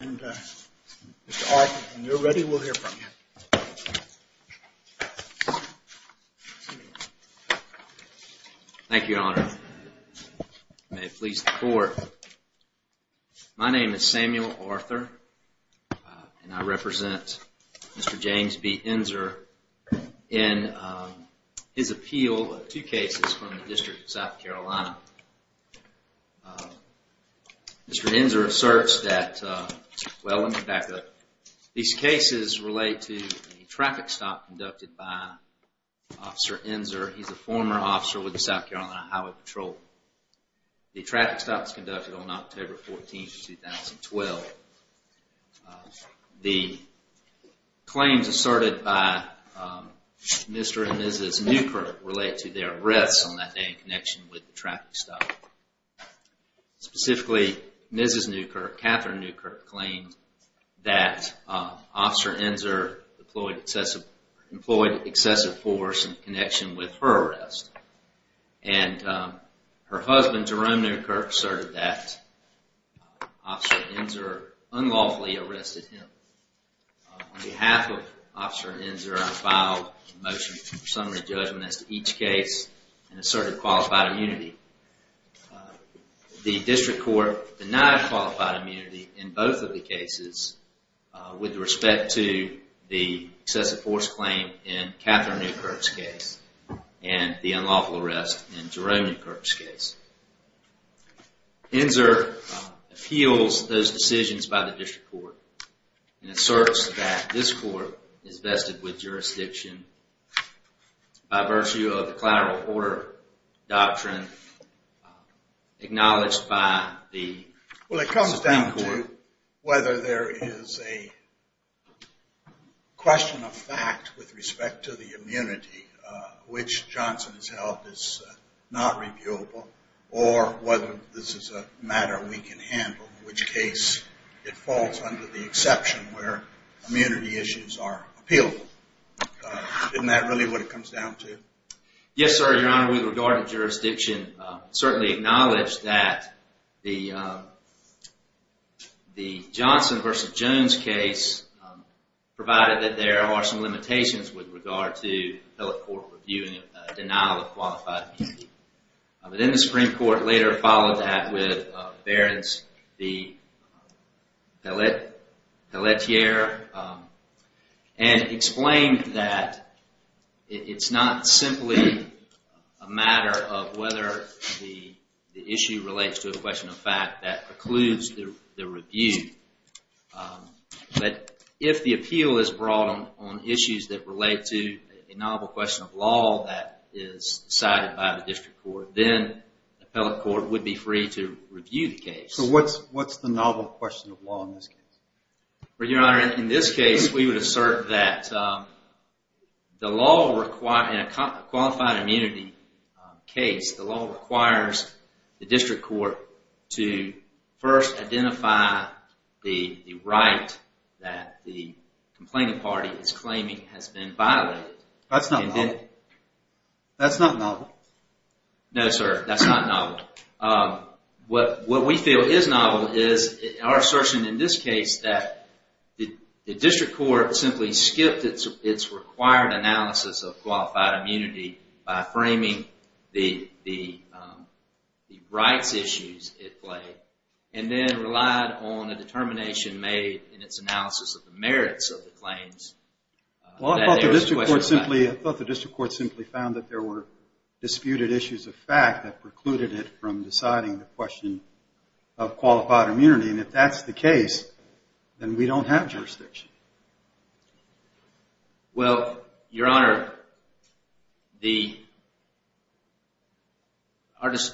Mr. Arthur, when you're ready, we'll hear from you. Thank you, Your Honor. May it please the Court. My name is Samuel Arthur, and I represent Mr. James B. Enzor in his appeal of two cases from the District of South Carolina. Mr. Enzor asserts that, well, let me back up. These cases relate to a traffic stop conducted by Officer Enzor. He's a former officer with the South Carolina Highway Patrol. The traffic stop was conducted on October 14, 2012. The claims asserted by Mr. and Mrs. Newkirk relate to their arrests on that day in connection with the traffic stop. Specifically, Mrs. Newkirk, Catherine Newkirk, claimed that Officer Enzor employed excessive force in connection with her arrest. And her husband, Jerome Newkirk, asserted that Officer Enzor unlawfully arrested him. On behalf of Officer Enzor, I file a motion for summary judgment as to each case and asserted qualified immunity. The District Court denied qualified immunity in both of the cases with respect to the excessive force claim in Catherine Newkirk's case and the unlawful arrest in Jerome Newkirk's case. Enzor appeals those decisions by the District Court and asserts that this court is vested with jurisdiction by virtue of the collateral order doctrine acknowledged by the Supreme Court. It comes down to whether there is a question of fact with respect to the immunity, which Johnson has held is not reviewable, or whether this is a matter we can handle, in which case it falls under the exception where immunity issues are appealable. Isn't that really what it comes down to? Yes, sir. Your Honor, with regard to jurisdiction, certainly acknowledge that the Johnson v. Jones case provided that there are some limitations with regard to appellate court review and denial of qualified immunity. Then the Supreme Court later followed that with Behrens v. Pelletier and explained that it's not simply a matter of whether the issue relates to a question of fact that precludes the review. But if the appeal is brought on issues that relate to a novel question of law that is decided by the District Court, then the appellate court would be free to review the case. So what's the novel question of law in this case? Your Honor, in this case, we would assert that in a qualified immunity case, the law requires the District Court to first identify the right that the complaining party is claiming has been violated. That's not novel. No, sir, that's not novel. What we feel is novel is our assertion in this case that the District Court simply skipped its required analysis of qualified immunity by framing the rights issues at play and then relied on a determination made in its analysis of the merits of the claims. Well, I thought the District Court simply found that there were disputed issues of fact that precluded it from deciding the question of qualified immunity. And if that's the case, then we don't have jurisdiction. Well, Your Honor, we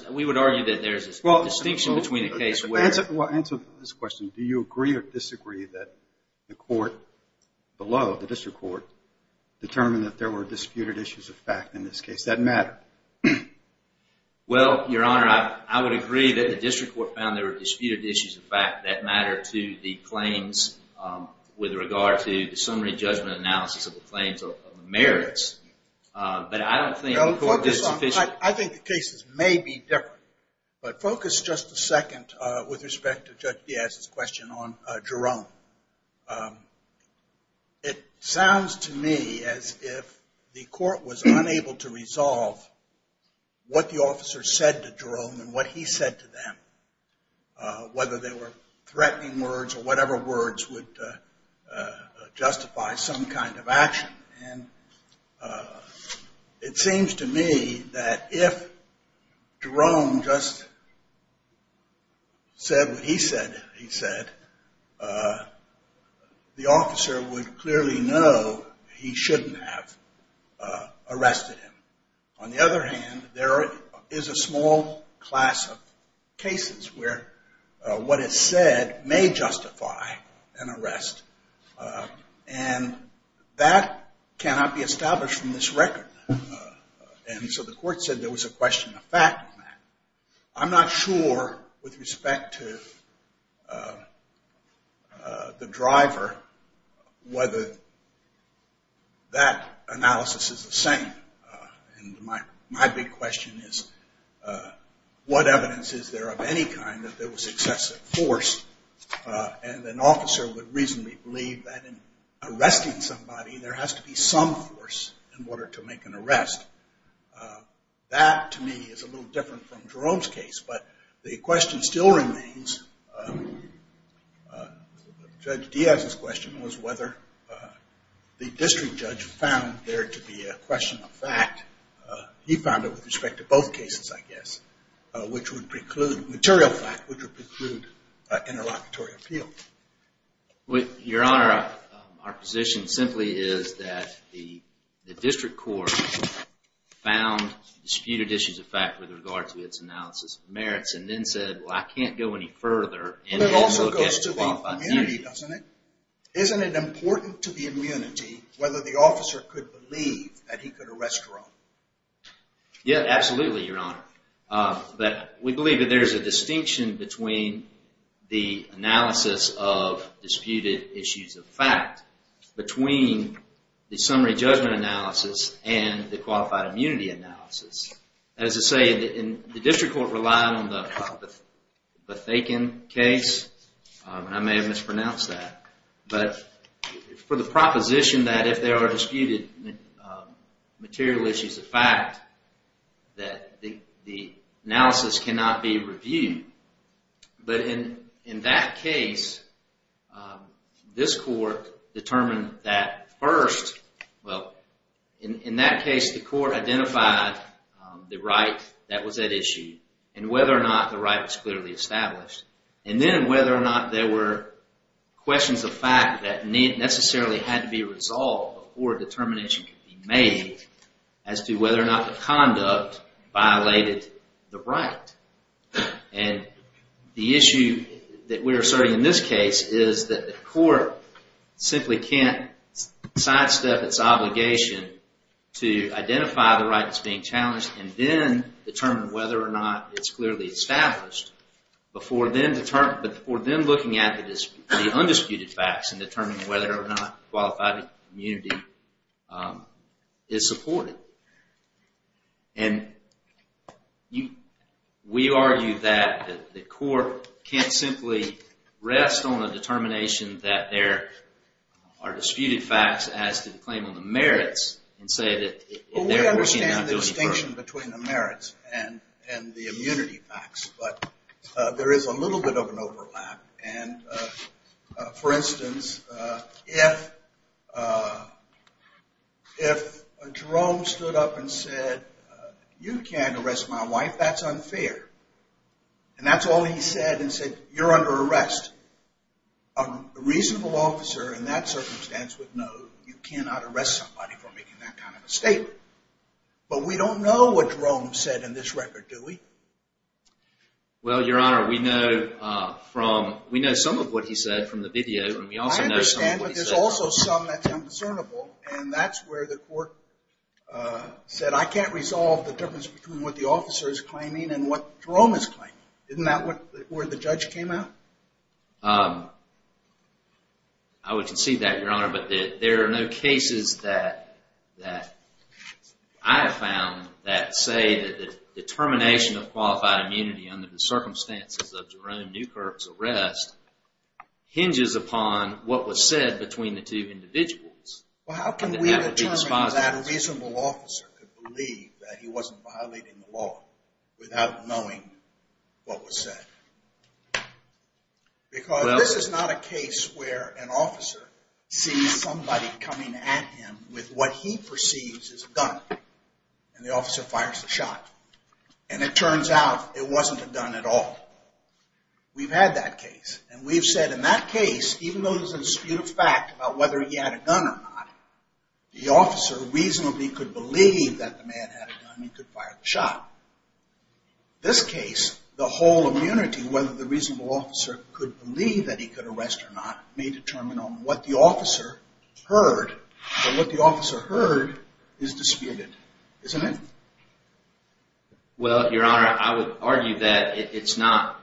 would argue that there's a distinction between the case where- Answer this question. Do you agree or disagree that the court below, the District Court, determined that there were disputed issues of fact in this case that matter? Well, Your Honor, I would agree that the District Court found there were disputed issues of fact that matter to the claims with regard to the summary judgment analysis of the claims of the merits. But I don't think the court- I think the cases may be different. But focus just a second with respect to Judge Diaz's question on Jerome. It sounds to me as if the court was unable to resolve what the officer said to Jerome and what he said to them, whether they were threatening words or whatever words would justify some kind of action. And it seems to me that if Jerome just said what he said, he said, the officer would clearly know he shouldn't have arrested him. On the other hand, there is a small class of cases where what is said may justify an arrest. And that cannot be established from this record. And so the court said there was a question of fact on that. I'm not sure with respect to the driver whether that analysis is the same. And my big question is what evidence is there of any kind that there was excessive force and an officer would reasonably believe that in arresting somebody, there has to be some force in order to make an arrest. That, to me, is a little different from Jerome's case. But the question still remains, Judge Diaz's question was whether the district judge found there to be a question of fact. He found it with respect to both cases, I guess, which would preclude material fact, which would preclude interlocutory appeal. Your Honor, our position simply is that the district court found disputed issues of fact with regard to its analysis of merits and then said, well, I can't go any further. It also goes to the immunity, doesn't it? Isn't it important to the immunity whether the officer could believe that he could arrest Jerome? Yes, absolutely, Your Honor. But we believe that there is a distinction between the analysis of disputed issues of fact, between the summary judgment analysis and the qualified immunity analysis. As I say, the district court relied on the Bethaken case, and I may have mispronounced that, but for the proposition that if there are disputed material issues of fact, that the analysis cannot be reviewed. But in that case, this court determined that first, well, in that case, the court identified the right that was at issue and whether or not the right was clearly established. And then whether or not there were questions of fact that necessarily had to be resolved before a determination could be made as to whether or not the conduct violated the right. And the issue that we're asserting in this case is that the court simply can't sidestep its obligation to identify the right that's being challenged and then determine whether or not it's clearly established before then looking at the undisputed facts and determining whether or not qualified immunity is supported. And we argue that the court can't simply rest on a determination that there are disputed facts as to the claim on the merits and say that in there we cannot do any further. We understand the distinction between the merits and the immunity facts, but there is a little bit of an overlap. And for instance, if Jerome stood up and said, you can't arrest my wife, that's unfair. And that's all he said and said, you're under arrest. A reasonable officer in that circumstance would know you cannot arrest somebody for making that kind of a statement. But we don't know what Jerome said in this record, do we? Well, Your Honor, we know some of what he said from the video. I understand, but there's also some that sound discernible. And that's where the court said, I can't resolve the difference between what the officer is claiming and what Jerome is claiming. Isn't that where the judge came out? I would concede that, Your Honor, but there are no cases that I have found that say that the determination of qualified immunity under the circumstances of Jerome Newkirk's arrest hinges upon what was said between the two individuals. How can we determine that a reasonable officer could believe that he wasn't violating the law without knowing what was said? Because this is not a case where an officer sees somebody coming at him with what he perceives as a gun. And the officer fires the shot. And it turns out it wasn't a gun at all. We've had that case. And we've said in that case, even though there's a dispute of fact about whether he had a gun or not, the officer reasonably could believe that the man had a gun and could fire the shot. This case, the whole immunity, whether the reasonable officer could believe that he could arrest or not, may determine on what the officer heard. But what the officer heard is disputed. Isn't it? Well, Your Honor, I would argue that it's not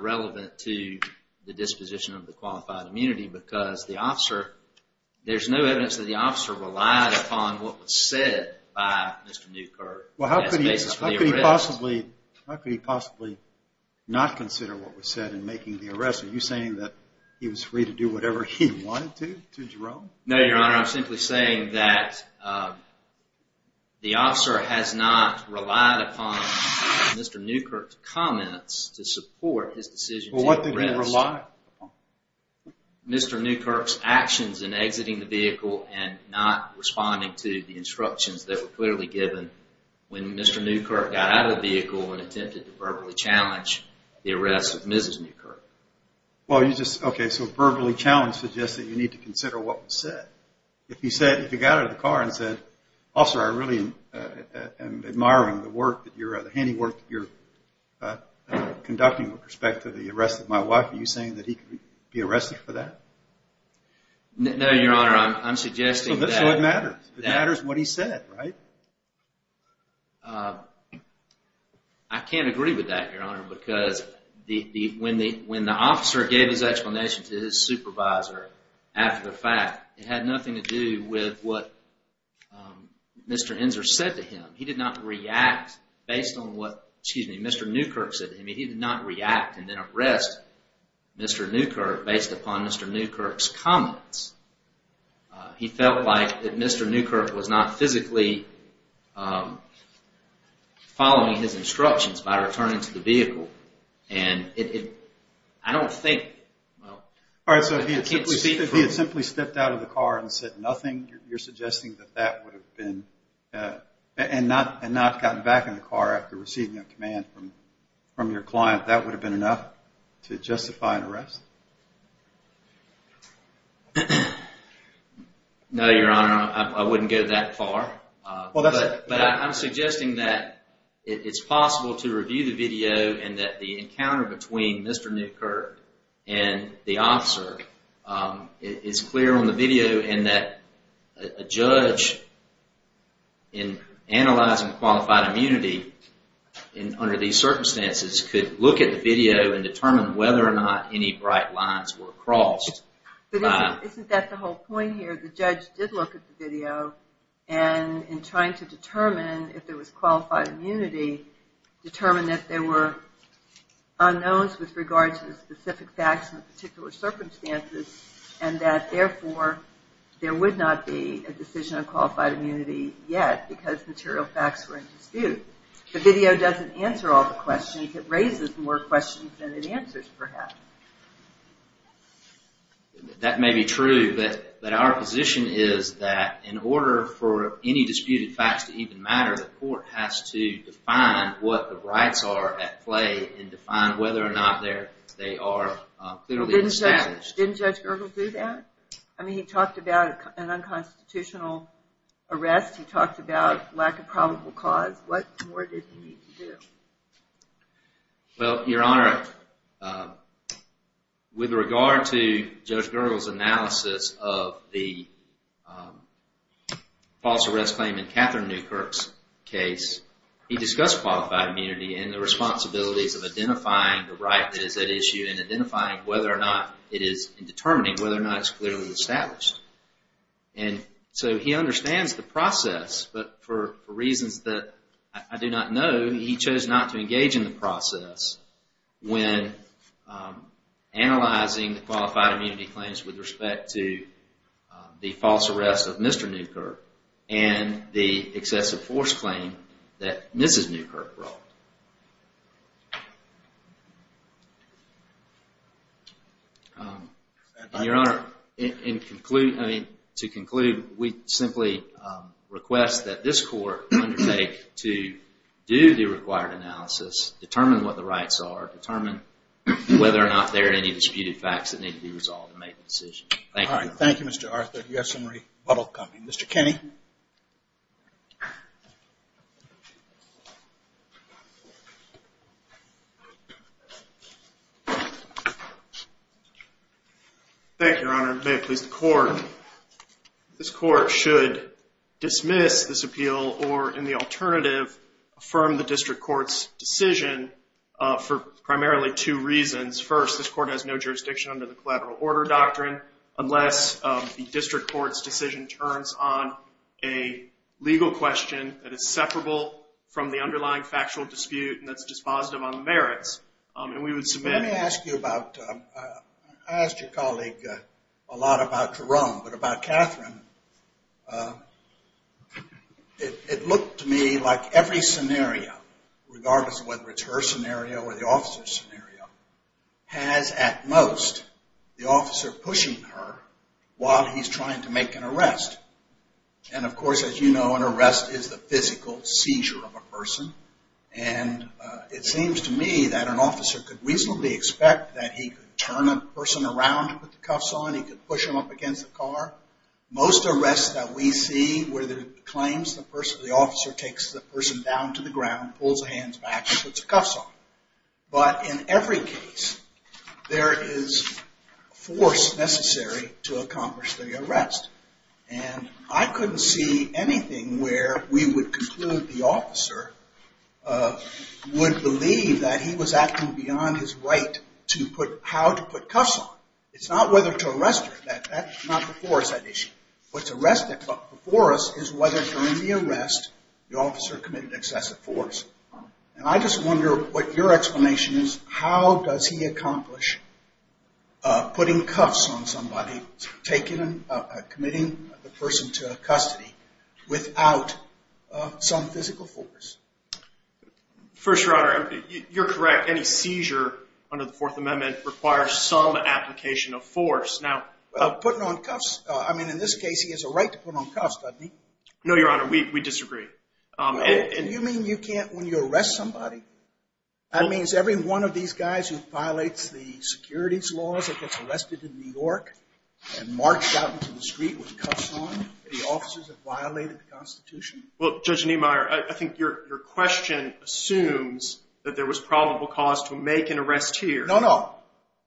relevant to the disposition of the qualified immunity because there's no evidence that the officer relied upon what was said by Mr. Newkirk. Well, how could he possibly not consider what was said in making the arrest? Are you saying that he was free to do whatever he wanted to Jerome? No, Your Honor. I'm simply saying that the officer has not relied upon Mr. Newkirk's comments to support his decision to arrest. Well, what did he rely upon? Mr. Newkirk's actions in exiting the vehicle and not responding to the instructions that were clearly given when Mr. Newkirk got out of the vehicle and attempted to verbally challenge the arrest of Mrs. Newkirk. Okay, so verbally challenge suggests that you need to consider what was said. If he got out of the car and said, Officer, I really am admiring the work that you're conducting with respect to the arrest of my wife. Are you saying that he could be arrested for that? No, Your Honor. I'm suggesting that… So that's why it matters. It matters what he said, right? I can't agree with that, Your Honor, because when the officer gave his explanation to his supervisor after the fact, it had nothing to do with what Mr. Inser said to him. He did not react based on what Mr. Newkirk said to him. He did not react and then arrest Mr. Newkirk based upon Mr. Newkirk's comments. He felt like Mr. Newkirk was not physically following his instructions by returning to the vehicle. And I don't think… All right, so if he had simply stepped out of the car and said nothing, you're suggesting that that would have been… and not gotten back in the car after receiving a command from your client, that would have been enough to justify an arrest? No, Your Honor. I wouldn't go that far. But I'm suggesting that it's possible to review the video and that the encounter between Mr. Newkirk and the officer is clear on the video and that a judge in analyzing qualified immunity under these circumstances could look at the video and determine whether or not any bright lines were crossed. But isn't that the whole point here? The judge did look at the video and in trying to determine if there was qualified immunity, determined that there were unknowns with regard to the specific facts and the particular circumstances and that therefore there would not be a decision on qualified immunity yet because material facts were in dispute. The video doesn't answer all the questions. It raises more questions than it answers, perhaps. That may be true, but our position is that in order for any disputed facts to even matter, the court has to define what the rights are at play and define whether or not they are clearly established. Didn't Judge Gergel do that? I mean, he talked about an unconstitutional arrest. He talked about lack of probable cause. What more did he need to do? Well, Your Honor, with regard to Judge Gergel's analysis of the false arrest claim in Catherine Newkirk's case, he discussed qualified immunity and the responsibilities of identifying the right that is at issue and identifying whether or not it is in determining whether or not it's clearly established. And so he understands the process, but for reasons that I do not know, he chose not to engage in the process when analyzing the qualified immunity claims with respect to the false arrest of Mr. Newkirk and the excessive force claim that Mrs. Newkirk brought. Your Honor, to conclude, we simply request that this court undertake to do the required analysis, determine what the rights are, determine whether or not there are any disputed facts that need to be resolved and make a decision. Thank you. All right. Thank you, Mr. Arthur. You have some rebuttal coming. Mr. Kenney? Thank you, Your Honor. May it please the court. This court should dismiss this appeal or, in the alternative, affirm the district court's decision for primarily two reasons. First, this court has no jurisdiction under the collateral order doctrine a legal question that is separable from the underlying factual dispute and that's dispositive on the merits, and we would submit- Let me ask you about, I asked your colleague a lot about Jerome, but about Catherine, it looked to me like every scenario, regardless of whether it's her scenario or the officer's scenario, has at most the officer pushing her while he's trying to make an arrest. And, of course, as you know, an arrest is the physical seizure of a person, and it seems to me that an officer could reasonably expect that he could turn a person around to put the cuffs on, he could push them up against the car. Most arrests that we see where it claims the person, the officer takes the person down to the ground, pulls the hands back and puts the cuffs on. But in every case, there is force necessary to accomplish the arrest. And I couldn't see anything where we would conclude the officer would believe that he was acting beyond his right to put, how to put cuffs on. It's not whether to arrest her, that's not before us that issue. What's arrested before us is whether during the arrest the officer committed excessive force. And I just wonder what your explanation is. How does he accomplish putting cuffs on somebody, committing the person to custody without some physical force? First, Your Honor, you're correct. Any seizure under the Fourth Amendment requires some application of force. Now, putting on cuffs, I mean, in this case he has a right to put on cuffs, doesn't he? No, Your Honor, we disagree. You mean you can't when you arrest somebody? That means every one of these guys who violates the securities laws that gets arrested in New York and marched out into the street with cuffs on, the officers have violated the Constitution? Well, Judge Niemeyer, I think your question assumes that there was probable cause to make an arrest here. No, no.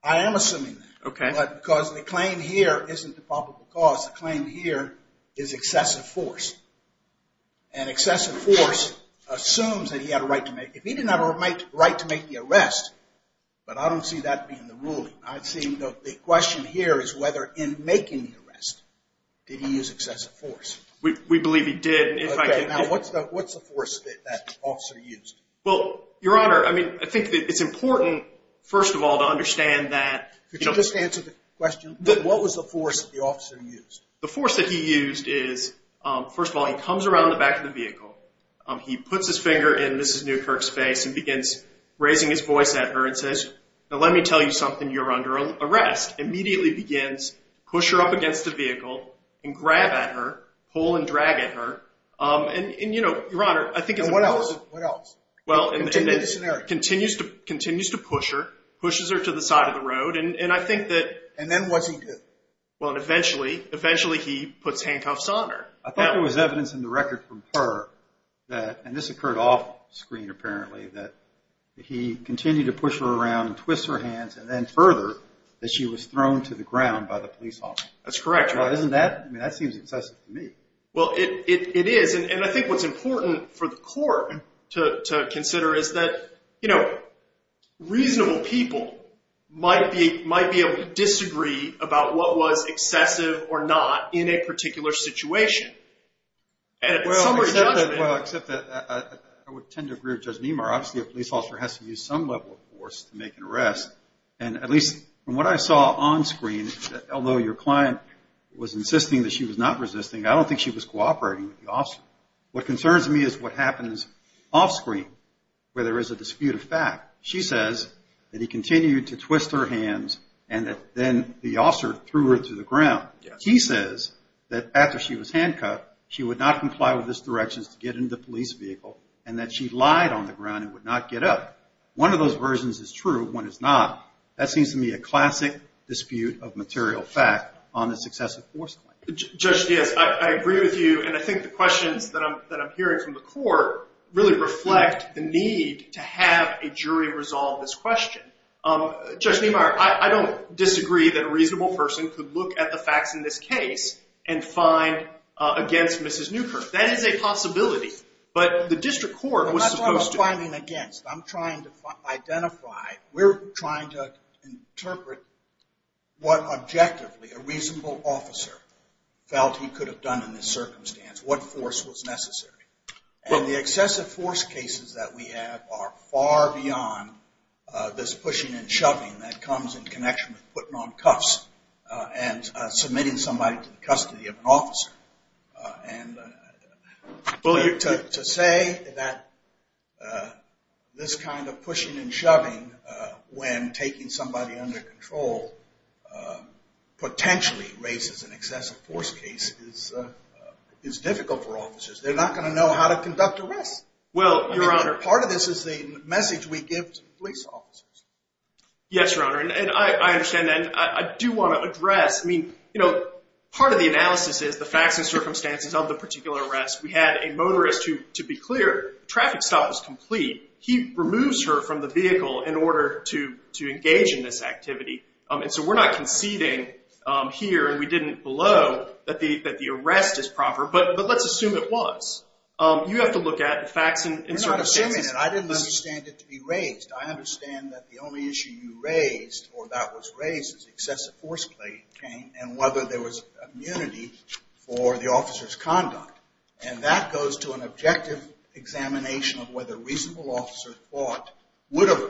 I am assuming that. Okay. But because the claim here isn't the probable cause. The claim here is excessive force. And excessive force assumes that he had a right to make. If he didn't have a right to make the arrest, but I don't see that being the ruling. I see the question here is whether in making the arrest did he use excessive force. We believe he did. Okay. Now, what's the force that the officer used? Well, Your Honor, I mean, I think it's important, first of all, to understand that. Could you just answer the question? What was the force that the officer used? The force that he used is, first of all, he comes around the back of the vehicle. He puts his finger in Mrs. Newkirk's face and begins raising his voice at her and says, Now, let me tell you something. You're under arrest. Immediately begins, push her up against the vehicle and grab at her, pull and drag at her. And, you know, Your Honor, I think it's important. And what else? What else? Continue the scenario. Continues to push her, pushes her to the side of the road. And I think that. And then what's he do? Well, eventually, eventually he puts handcuffs on her. I thought there was evidence in the record from her that, and this occurred off screen apparently, that he continued to push her around and twist her hands and then further that she was thrown to the ground by the police officer. That's correct, Your Honor. Well, isn't that, I mean, that seems excessive to me. Well, it is. And I think what's important for the court to consider is that, you know, reasonable people might be able to disagree about what was excessive or not in a particular situation. Well, except that I would tend to agree with Judge Niemar. Obviously, a police officer has to use some level of force to make an arrest. And at least from what I saw on screen, although your client was insisting that she was not resisting, I don't think she was cooperating with the officer. What concerns me is what happens off screen where there is a dispute of fact. She says that he continued to twist her hands and that then the officer threw her to the ground. He says that after she was handcuffed, she would not comply with his directions to get into the police vehicle and that she lied on the ground and would not get up. One of those versions is true. One is not. That seems to me a classic dispute of material fact on the successive force claim. Judge Diaz, I agree with you, and I think the questions that I'm hearing from the court really reflect the need to have a jury resolve this question. Judge Niemar, I don't disagree that a reasonable person could look at the facts in this case and find against Mrs. Newkirk. That is a possibility. But the district court was supposed to— I'm not talking about finding against. I'm trying to identify. We're trying to interpret what objectively a reasonable officer felt he could have done in this circumstance, what force was necessary. And the excessive force cases that we have are far beyond this pushing and shoving that comes in connection with putting on cuffs and submitting somebody to the custody of an officer. To say that this kind of pushing and shoving when taking somebody under control potentially raises an excessive force case is difficult for officers. They're not going to know how to conduct arrests. Well, Your Honor— Part of this is the message we give to police officers. Yes, Your Honor, and I understand that. I do want to address, I mean, you know, part of the analysis is the facts and circumstances of the particular arrest. We had a motorist who, to be clear, traffic stop was complete. He removes her from the vehicle in order to engage in this activity. And so we're not conceding here, and we didn't blow, that the arrest is proper. But let's assume it was. You have to look at the facts and circumstances. We're not assuming it. I didn't understand it to be raised. I understand that the only issue you raised, or that was raised, is excessive force came and whether there was immunity for the officer's conduct. And that goes to an objective examination of whether a reasonable officer would have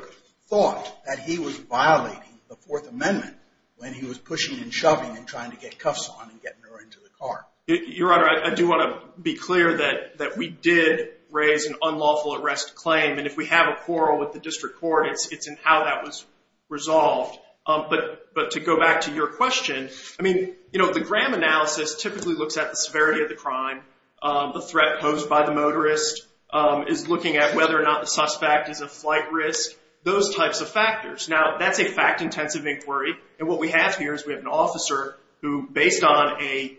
thought that he was violating the Fourth Amendment when he was pushing and shoving and trying to get cuffs on and getting her into the car. Your Honor, I do want to be clear that we did raise an unlawful arrest claim. And if we have a quarrel with the district court, it's in how that was resolved. But to go back to your question, I mean, you know, the Graham analysis typically looks at the severity of the crime, the threat posed by the motorist, is looking at whether or not the suspect is a flight risk, those types of factors. Now, that's a fact-intensive inquiry. And what we have here is we have an officer who, based on a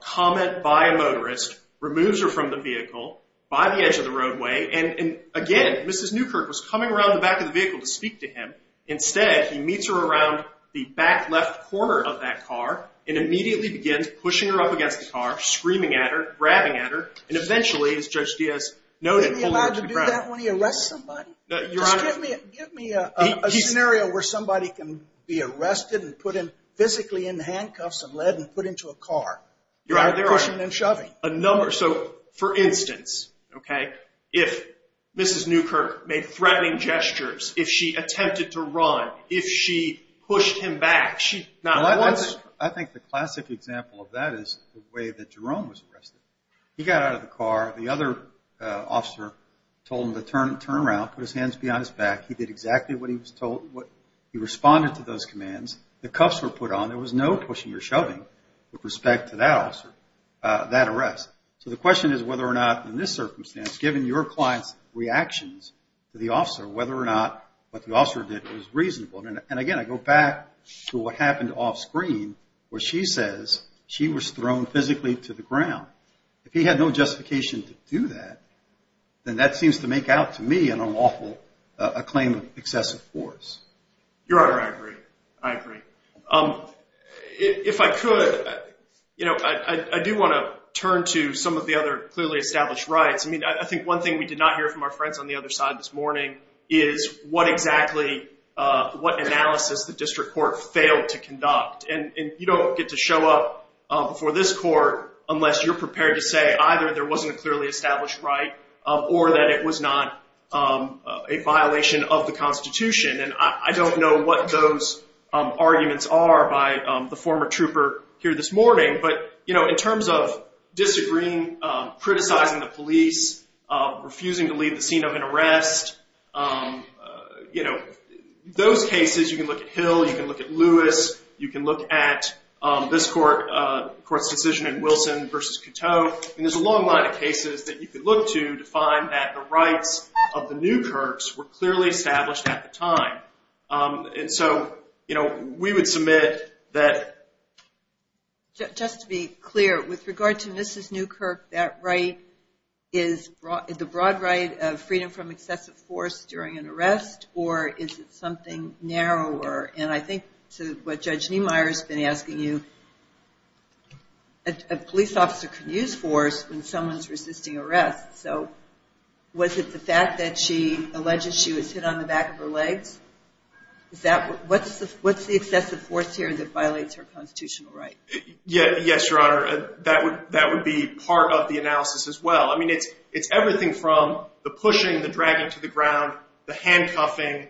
comment by a motorist, removes her from the vehicle by the edge of the roadway. And again, Mrs. Newkirk was coming around the back of the vehicle to speak to him. Instead, he meets her around the back left corner of that car and immediately begins pushing her up against the car, screaming at her, grabbing at her, and eventually, as Judge Diaz noted, pulling her to the ground. Would he be allowed to do that when he arrests somebody? Just give me a scenario where somebody can be arrested and put physically in handcuffs and lead and put into a car, pushing and shoving. So, for instance, okay, if Mrs. Newkirk made threatening gestures, if she attempted to run, if she pushed him back, not once. I think the classic example of that is the way that Jerome was arrested. He got out of the car. The other officer told him to turn around, put his hands behind his back. He did exactly what he was told. He responded to those commands. The cuffs were put on. There was no pushing or shoving with respect to that arrest. So the question is whether or not, in this circumstance, given your client's reactions to the officer, whether or not what the officer did was reasonable. And, again, I go back to what happened offscreen where she says she was thrown physically to the ground. If he had no justification to do that, then that seems to make out to me an awful claim of excessive force. Your Honor, I agree. I agree. If I could, you know, I do want to turn to some of the other clearly established rights. I mean, I think one thing we did not hear from our friends on the other side this morning is what exactly, what analysis the district court failed to conduct. And you don't get to show up before this court unless you're prepared to say either there wasn't a clearly established right or that it was not a violation of the Constitution. And I don't know what those arguments are by the former trooper here this morning. But, you know, in terms of disagreeing, criticizing the police, refusing to leave the scene of an arrest, you know, those cases you can look at Hill. You can look at Lewis. You can look at this court's decision in Wilson v. Coteau. And there's a long line of cases that you can look to to find that the rights of the Newkirks were clearly established at the time. And so, you know, we would submit that. Just to be clear, with regard to Mrs. Newkirk, that right is the broad right of freedom from excessive force during an arrest, or is it something narrower? And I think to what Judge Niemeyer's been asking you, a police officer can use force when someone's resisting arrest. So was it the fact that she alleges she was hit on the back of her legs? What's the excessive force here that violates her constitutional right? Yes, Your Honor. That would be part of the analysis as well. I mean, it's everything from the pushing, the dragging to the ground, the handcuffing,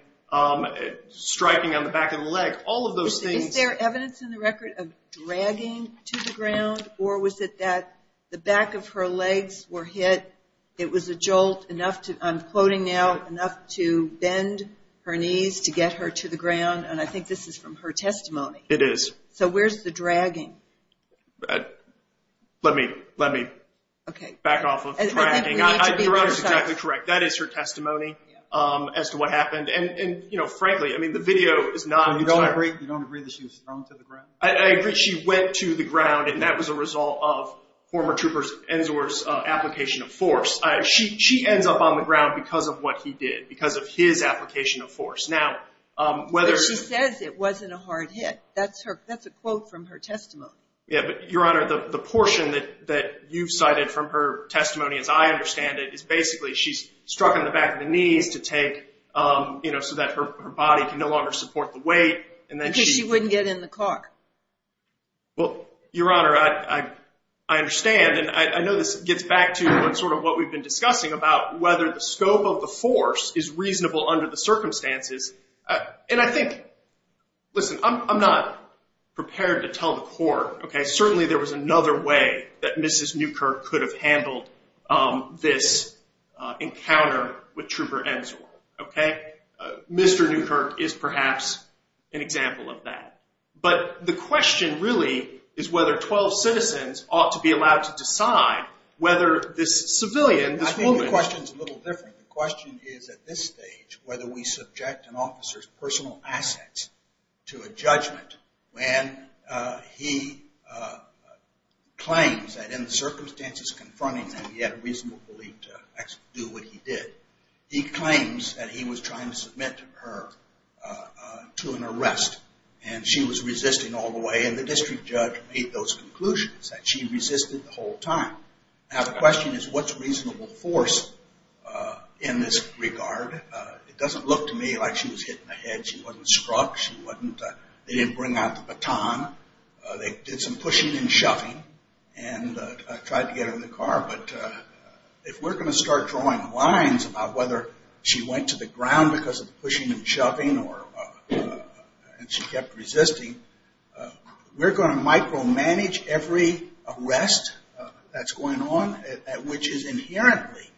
striking on the back of the leg, all of those things. Is there evidence in the record of dragging to the ground, or was it that the back of her legs were hit, it was a jolt enough to, I'm quoting now, enough to bend her knees to get her to the ground? And I think this is from her testimony. It is. So where's the dragging? Let me back off of dragging. Your Honor is exactly correct. That is her testimony as to what happened. And, you know, frankly, I mean, the video is not. You don't agree that she was thrown to the ground? I agree she went to the ground, and that was a result of former trooper Ensor's application of force. She ends up on the ground because of what he did, because of his application of force. But she says it wasn't a hard hit. That's a quote from her testimony. Yeah, but, Your Honor, the portion that you cited from her testimony, as I understand it, is basically she's struck in the back of the knees to take, you know, so that her body can no longer support the weight. Because she wouldn't get in the car. Well, Your Honor, I understand, and I know this gets back to sort of what we've been discussing about whether the scope of the force is reasonable under the circumstances. And I think, listen, I'm not prepared to tell the court, okay, certainly there was another way that Mrs. Newkirk could have handled this encounter with Trooper Ensor, okay? Mr. Newkirk is perhaps an example of that. But the question really is whether 12 citizens ought to be allowed to decide whether this civilian, this woman. I think the question is a little different. The question is at this stage whether we subject an officer's personal assets to a judgment when he claims that in the circumstances confronting him he had a reasonable belief to do what he did. He claims that he was trying to submit her to an arrest. And she was resisting all the way. And the district judge made those conclusions, that she resisted the whole time. Now, the question is what's reasonable force in this regard? It doesn't look to me like she was hitting a head. She wasn't struck. They didn't bring out the baton. They did some pushing and shoving and tried to get her in the car. But if we're going to start drawing lines about whether she went to the ground because of the pushing and shoving and she kept resisting, we're going to micromanage every arrest that's going on, which is inherently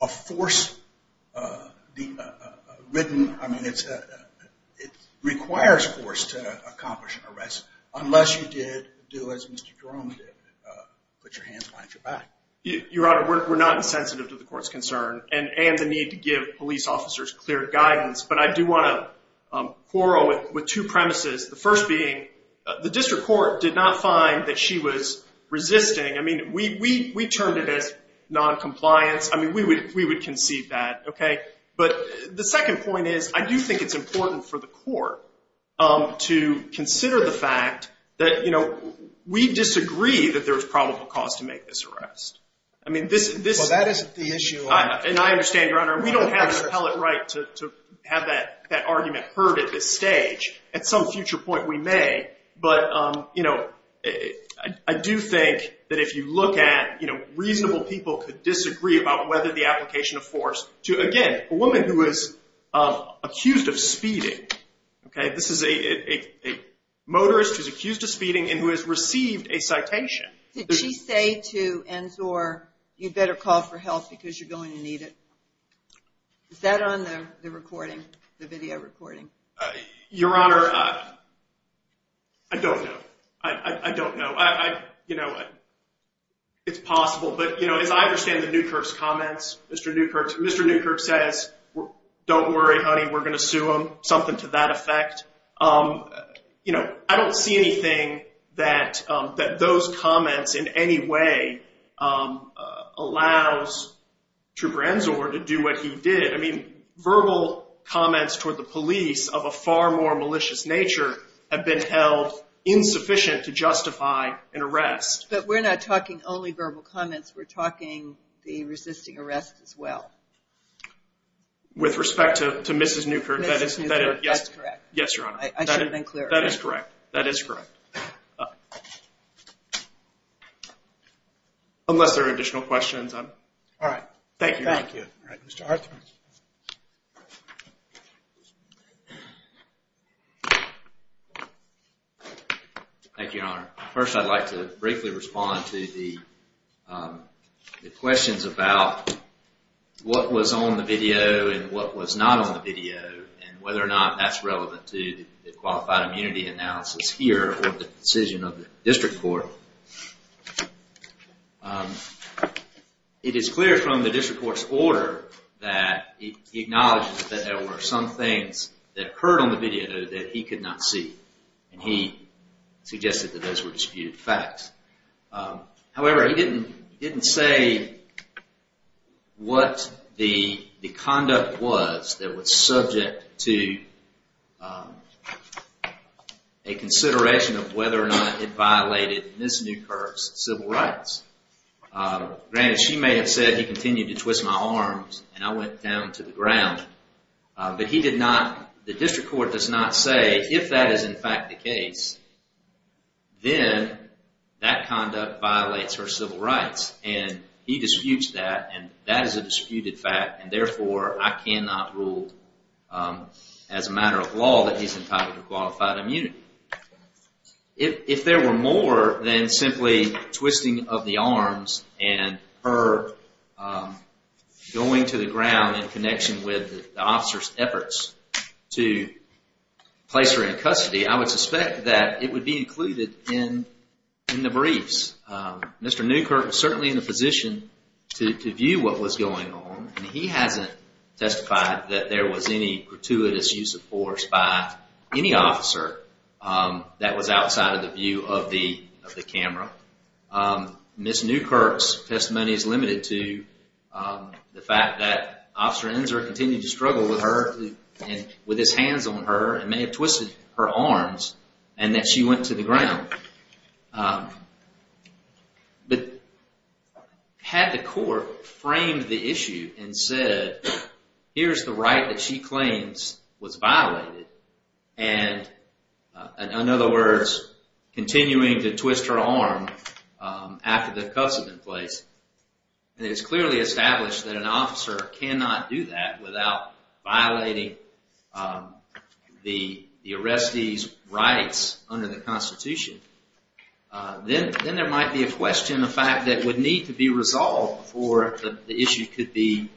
a force-ridden, I mean, it requires force to accomplish an arrest, unless you did do as Mr. Jerome did and put your hands behind your back. Your Honor, we're not insensitive to the court's concern and the need to give police officers clear guidance. But I do want to quarrel with two premises, the first being the district court did not find that she was resisting. I mean, we turned it as noncompliance. I mean, we would concede that, okay? But the second point is I do think it's important for the court to consider the fact that, you know, we disagree that there's probable cause to make this arrest. I mean, this is the issue. And I understand, Your Honor, we don't have the pellet right to have that argument heard at this stage. At some future point, we may. But, you know, I do think that if you look at, you know, reasonable people could disagree about whether the application of force to, again, a woman who is accused of speeding, okay? This is a motorist who's accused of speeding and who has received a citation. Did she say to Ensor, you'd better call for help because you're going to need it? Is that on the recording, the video recording? Your Honor, I don't know. I don't know. You know, it's possible. But, you know, as I understand the Newkirks comments, Mr. Newkirks says, don't worry, honey, we're going to sue him, something to that effect. You know, I don't see anything that those comments in any way allows Trooper Ensor to do what he did. I mean, verbal comments toward the police of a far more malicious nature have been held insufficient to justify an arrest. But we're not talking only verbal comments. We're talking the resisting arrest as well. With respect to Mrs. Newkirk? Mrs. Newkirk, that's correct. Yes, Your Honor. I should have been clearer. That is correct. That is correct. Unless there are additional questions. Thank you. Thank you. All right, Mr. Arthur. Thank you, Your Honor. First, I'd like to briefly respond to the questions about what was on the video and what was not on the video and whether or not that's relevant to the qualified immunity analysis here or the decision of the district court. It is clear from the district court's order that it acknowledges that there were some things that occurred on the video that he could not see. And he suggested that those were disputed facts. However, he didn't say what the conduct was that was subject to a consideration of whether or not it violated Mrs. Newkirk's civil rights. Granted, she may have said he continued to twist my arms and I went down to the ground. But he did not, the district court does not say if that is in fact the case, then that conduct violates her civil rights. And he disputes that and that is a disputed fact and therefore I cannot rule as a matter of law that he's entitled to qualified immunity. If there were more than simply twisting of the arms and her going to the ground in connection with the officer's efforts to place her in custody, I would suspect that it would be included in the briefs. Mr. Newkirk was certainly in a position to view what was going on. He hasn't testified that there was any gratuitous use of force by any officer that was outside of the view of the camera. Mrs. Newkirk's testimony is limited to the fact that Officer Ensor continued to struggle with her and with his hands on her and may have twisted her arms and that she went to the ground. But had the court framed the issue and said, here's the right that she claims was violated and in other words, continuing to twist her arm after the cuffs have been placed, and it's clearly established that an officer cannot do that without violating the arrestee's rights under the Constitution, then there might be a question of fact that would need to be resolved before the issue could be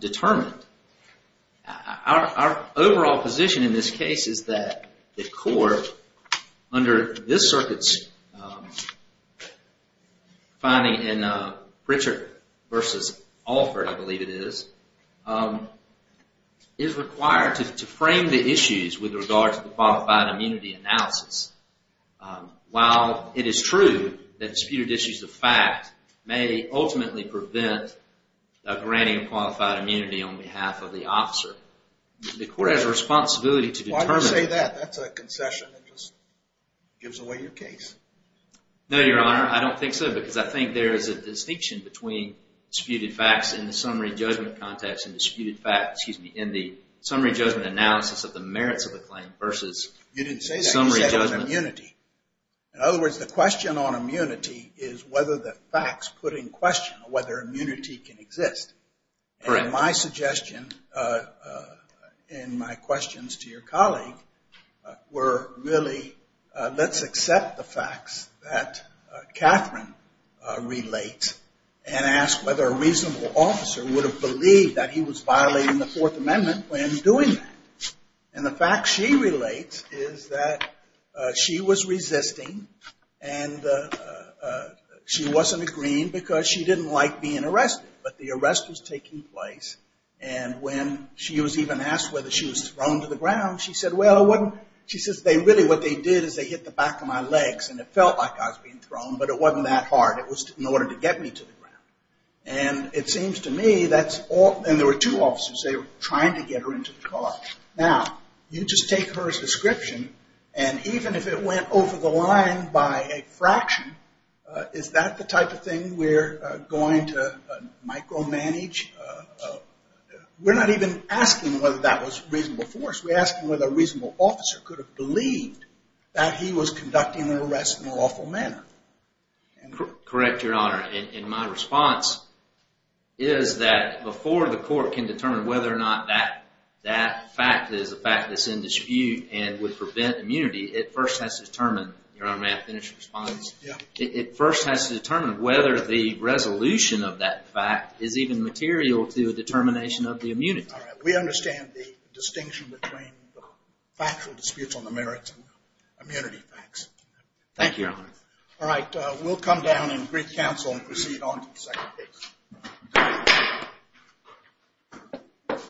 determined. Our overall position in this case is that the court, under this circuit's finding in Pritchard v. Alford, I believe it is, is required to frame the issues with regard to the qualified immunity analysis. While it is true that disputed issues of fact may ultimately prevent a granting of qualified immunity on behalf of the officer, the court has a responsibility to determine... Why do you say that? That's a concession. It just gives away your case. No, Your Honor, I don't think so because I think there is a distinction between disputed facts in the summary judgment context and disputed facts, excuse me, in the summary judgment analysis of the merits of the claim versus summary judgment. You didn't say that, you said it was immunity. In other words, the question on immunity is whether the facts put in question whether immunity can exist. And my suggestion in my questions to your colleague were really, let's accept the facts that Catherine relates and ask whether a reasonable officer would have believed that he was violating the Fourth Amendment when doing that. And the fact she relates is that she was resisting and she wasn't agreeing because she didn't like being arrested. But the arrest was taking place and when she was even asked whether she was thrown to the ground, she said, well, it wasn't, she says, really what they did is they hit the back of my legs and it felt like I was being thrown, but it wasn't that hard. It was in order to get me to the ground. And it seems to me that's all, and there were two officers, they were trying to get her into the car. Now, you just take her description and even if it went over the line by a fraction, is that the type of thing we're going to micromanage? We're not even asking whether that was reasonable force. We're asking whether a reasonable officer could have believed that he was conducting an arrest in an awful manner. Correct, Your Honor. And my response is that before the court can determine whether or not that fact is a fact that's in dispute and would prevent immunity, it first has to determine, Your Honor, may I finish your response? It first has to determine whether the resolution of that fact is even material to a determination of the immunity. We understand the distinction between factual disputes on the merits and immunity facts. Thank you, Your Honor. All right, we'll come down and break counsel and proceed on to the second case.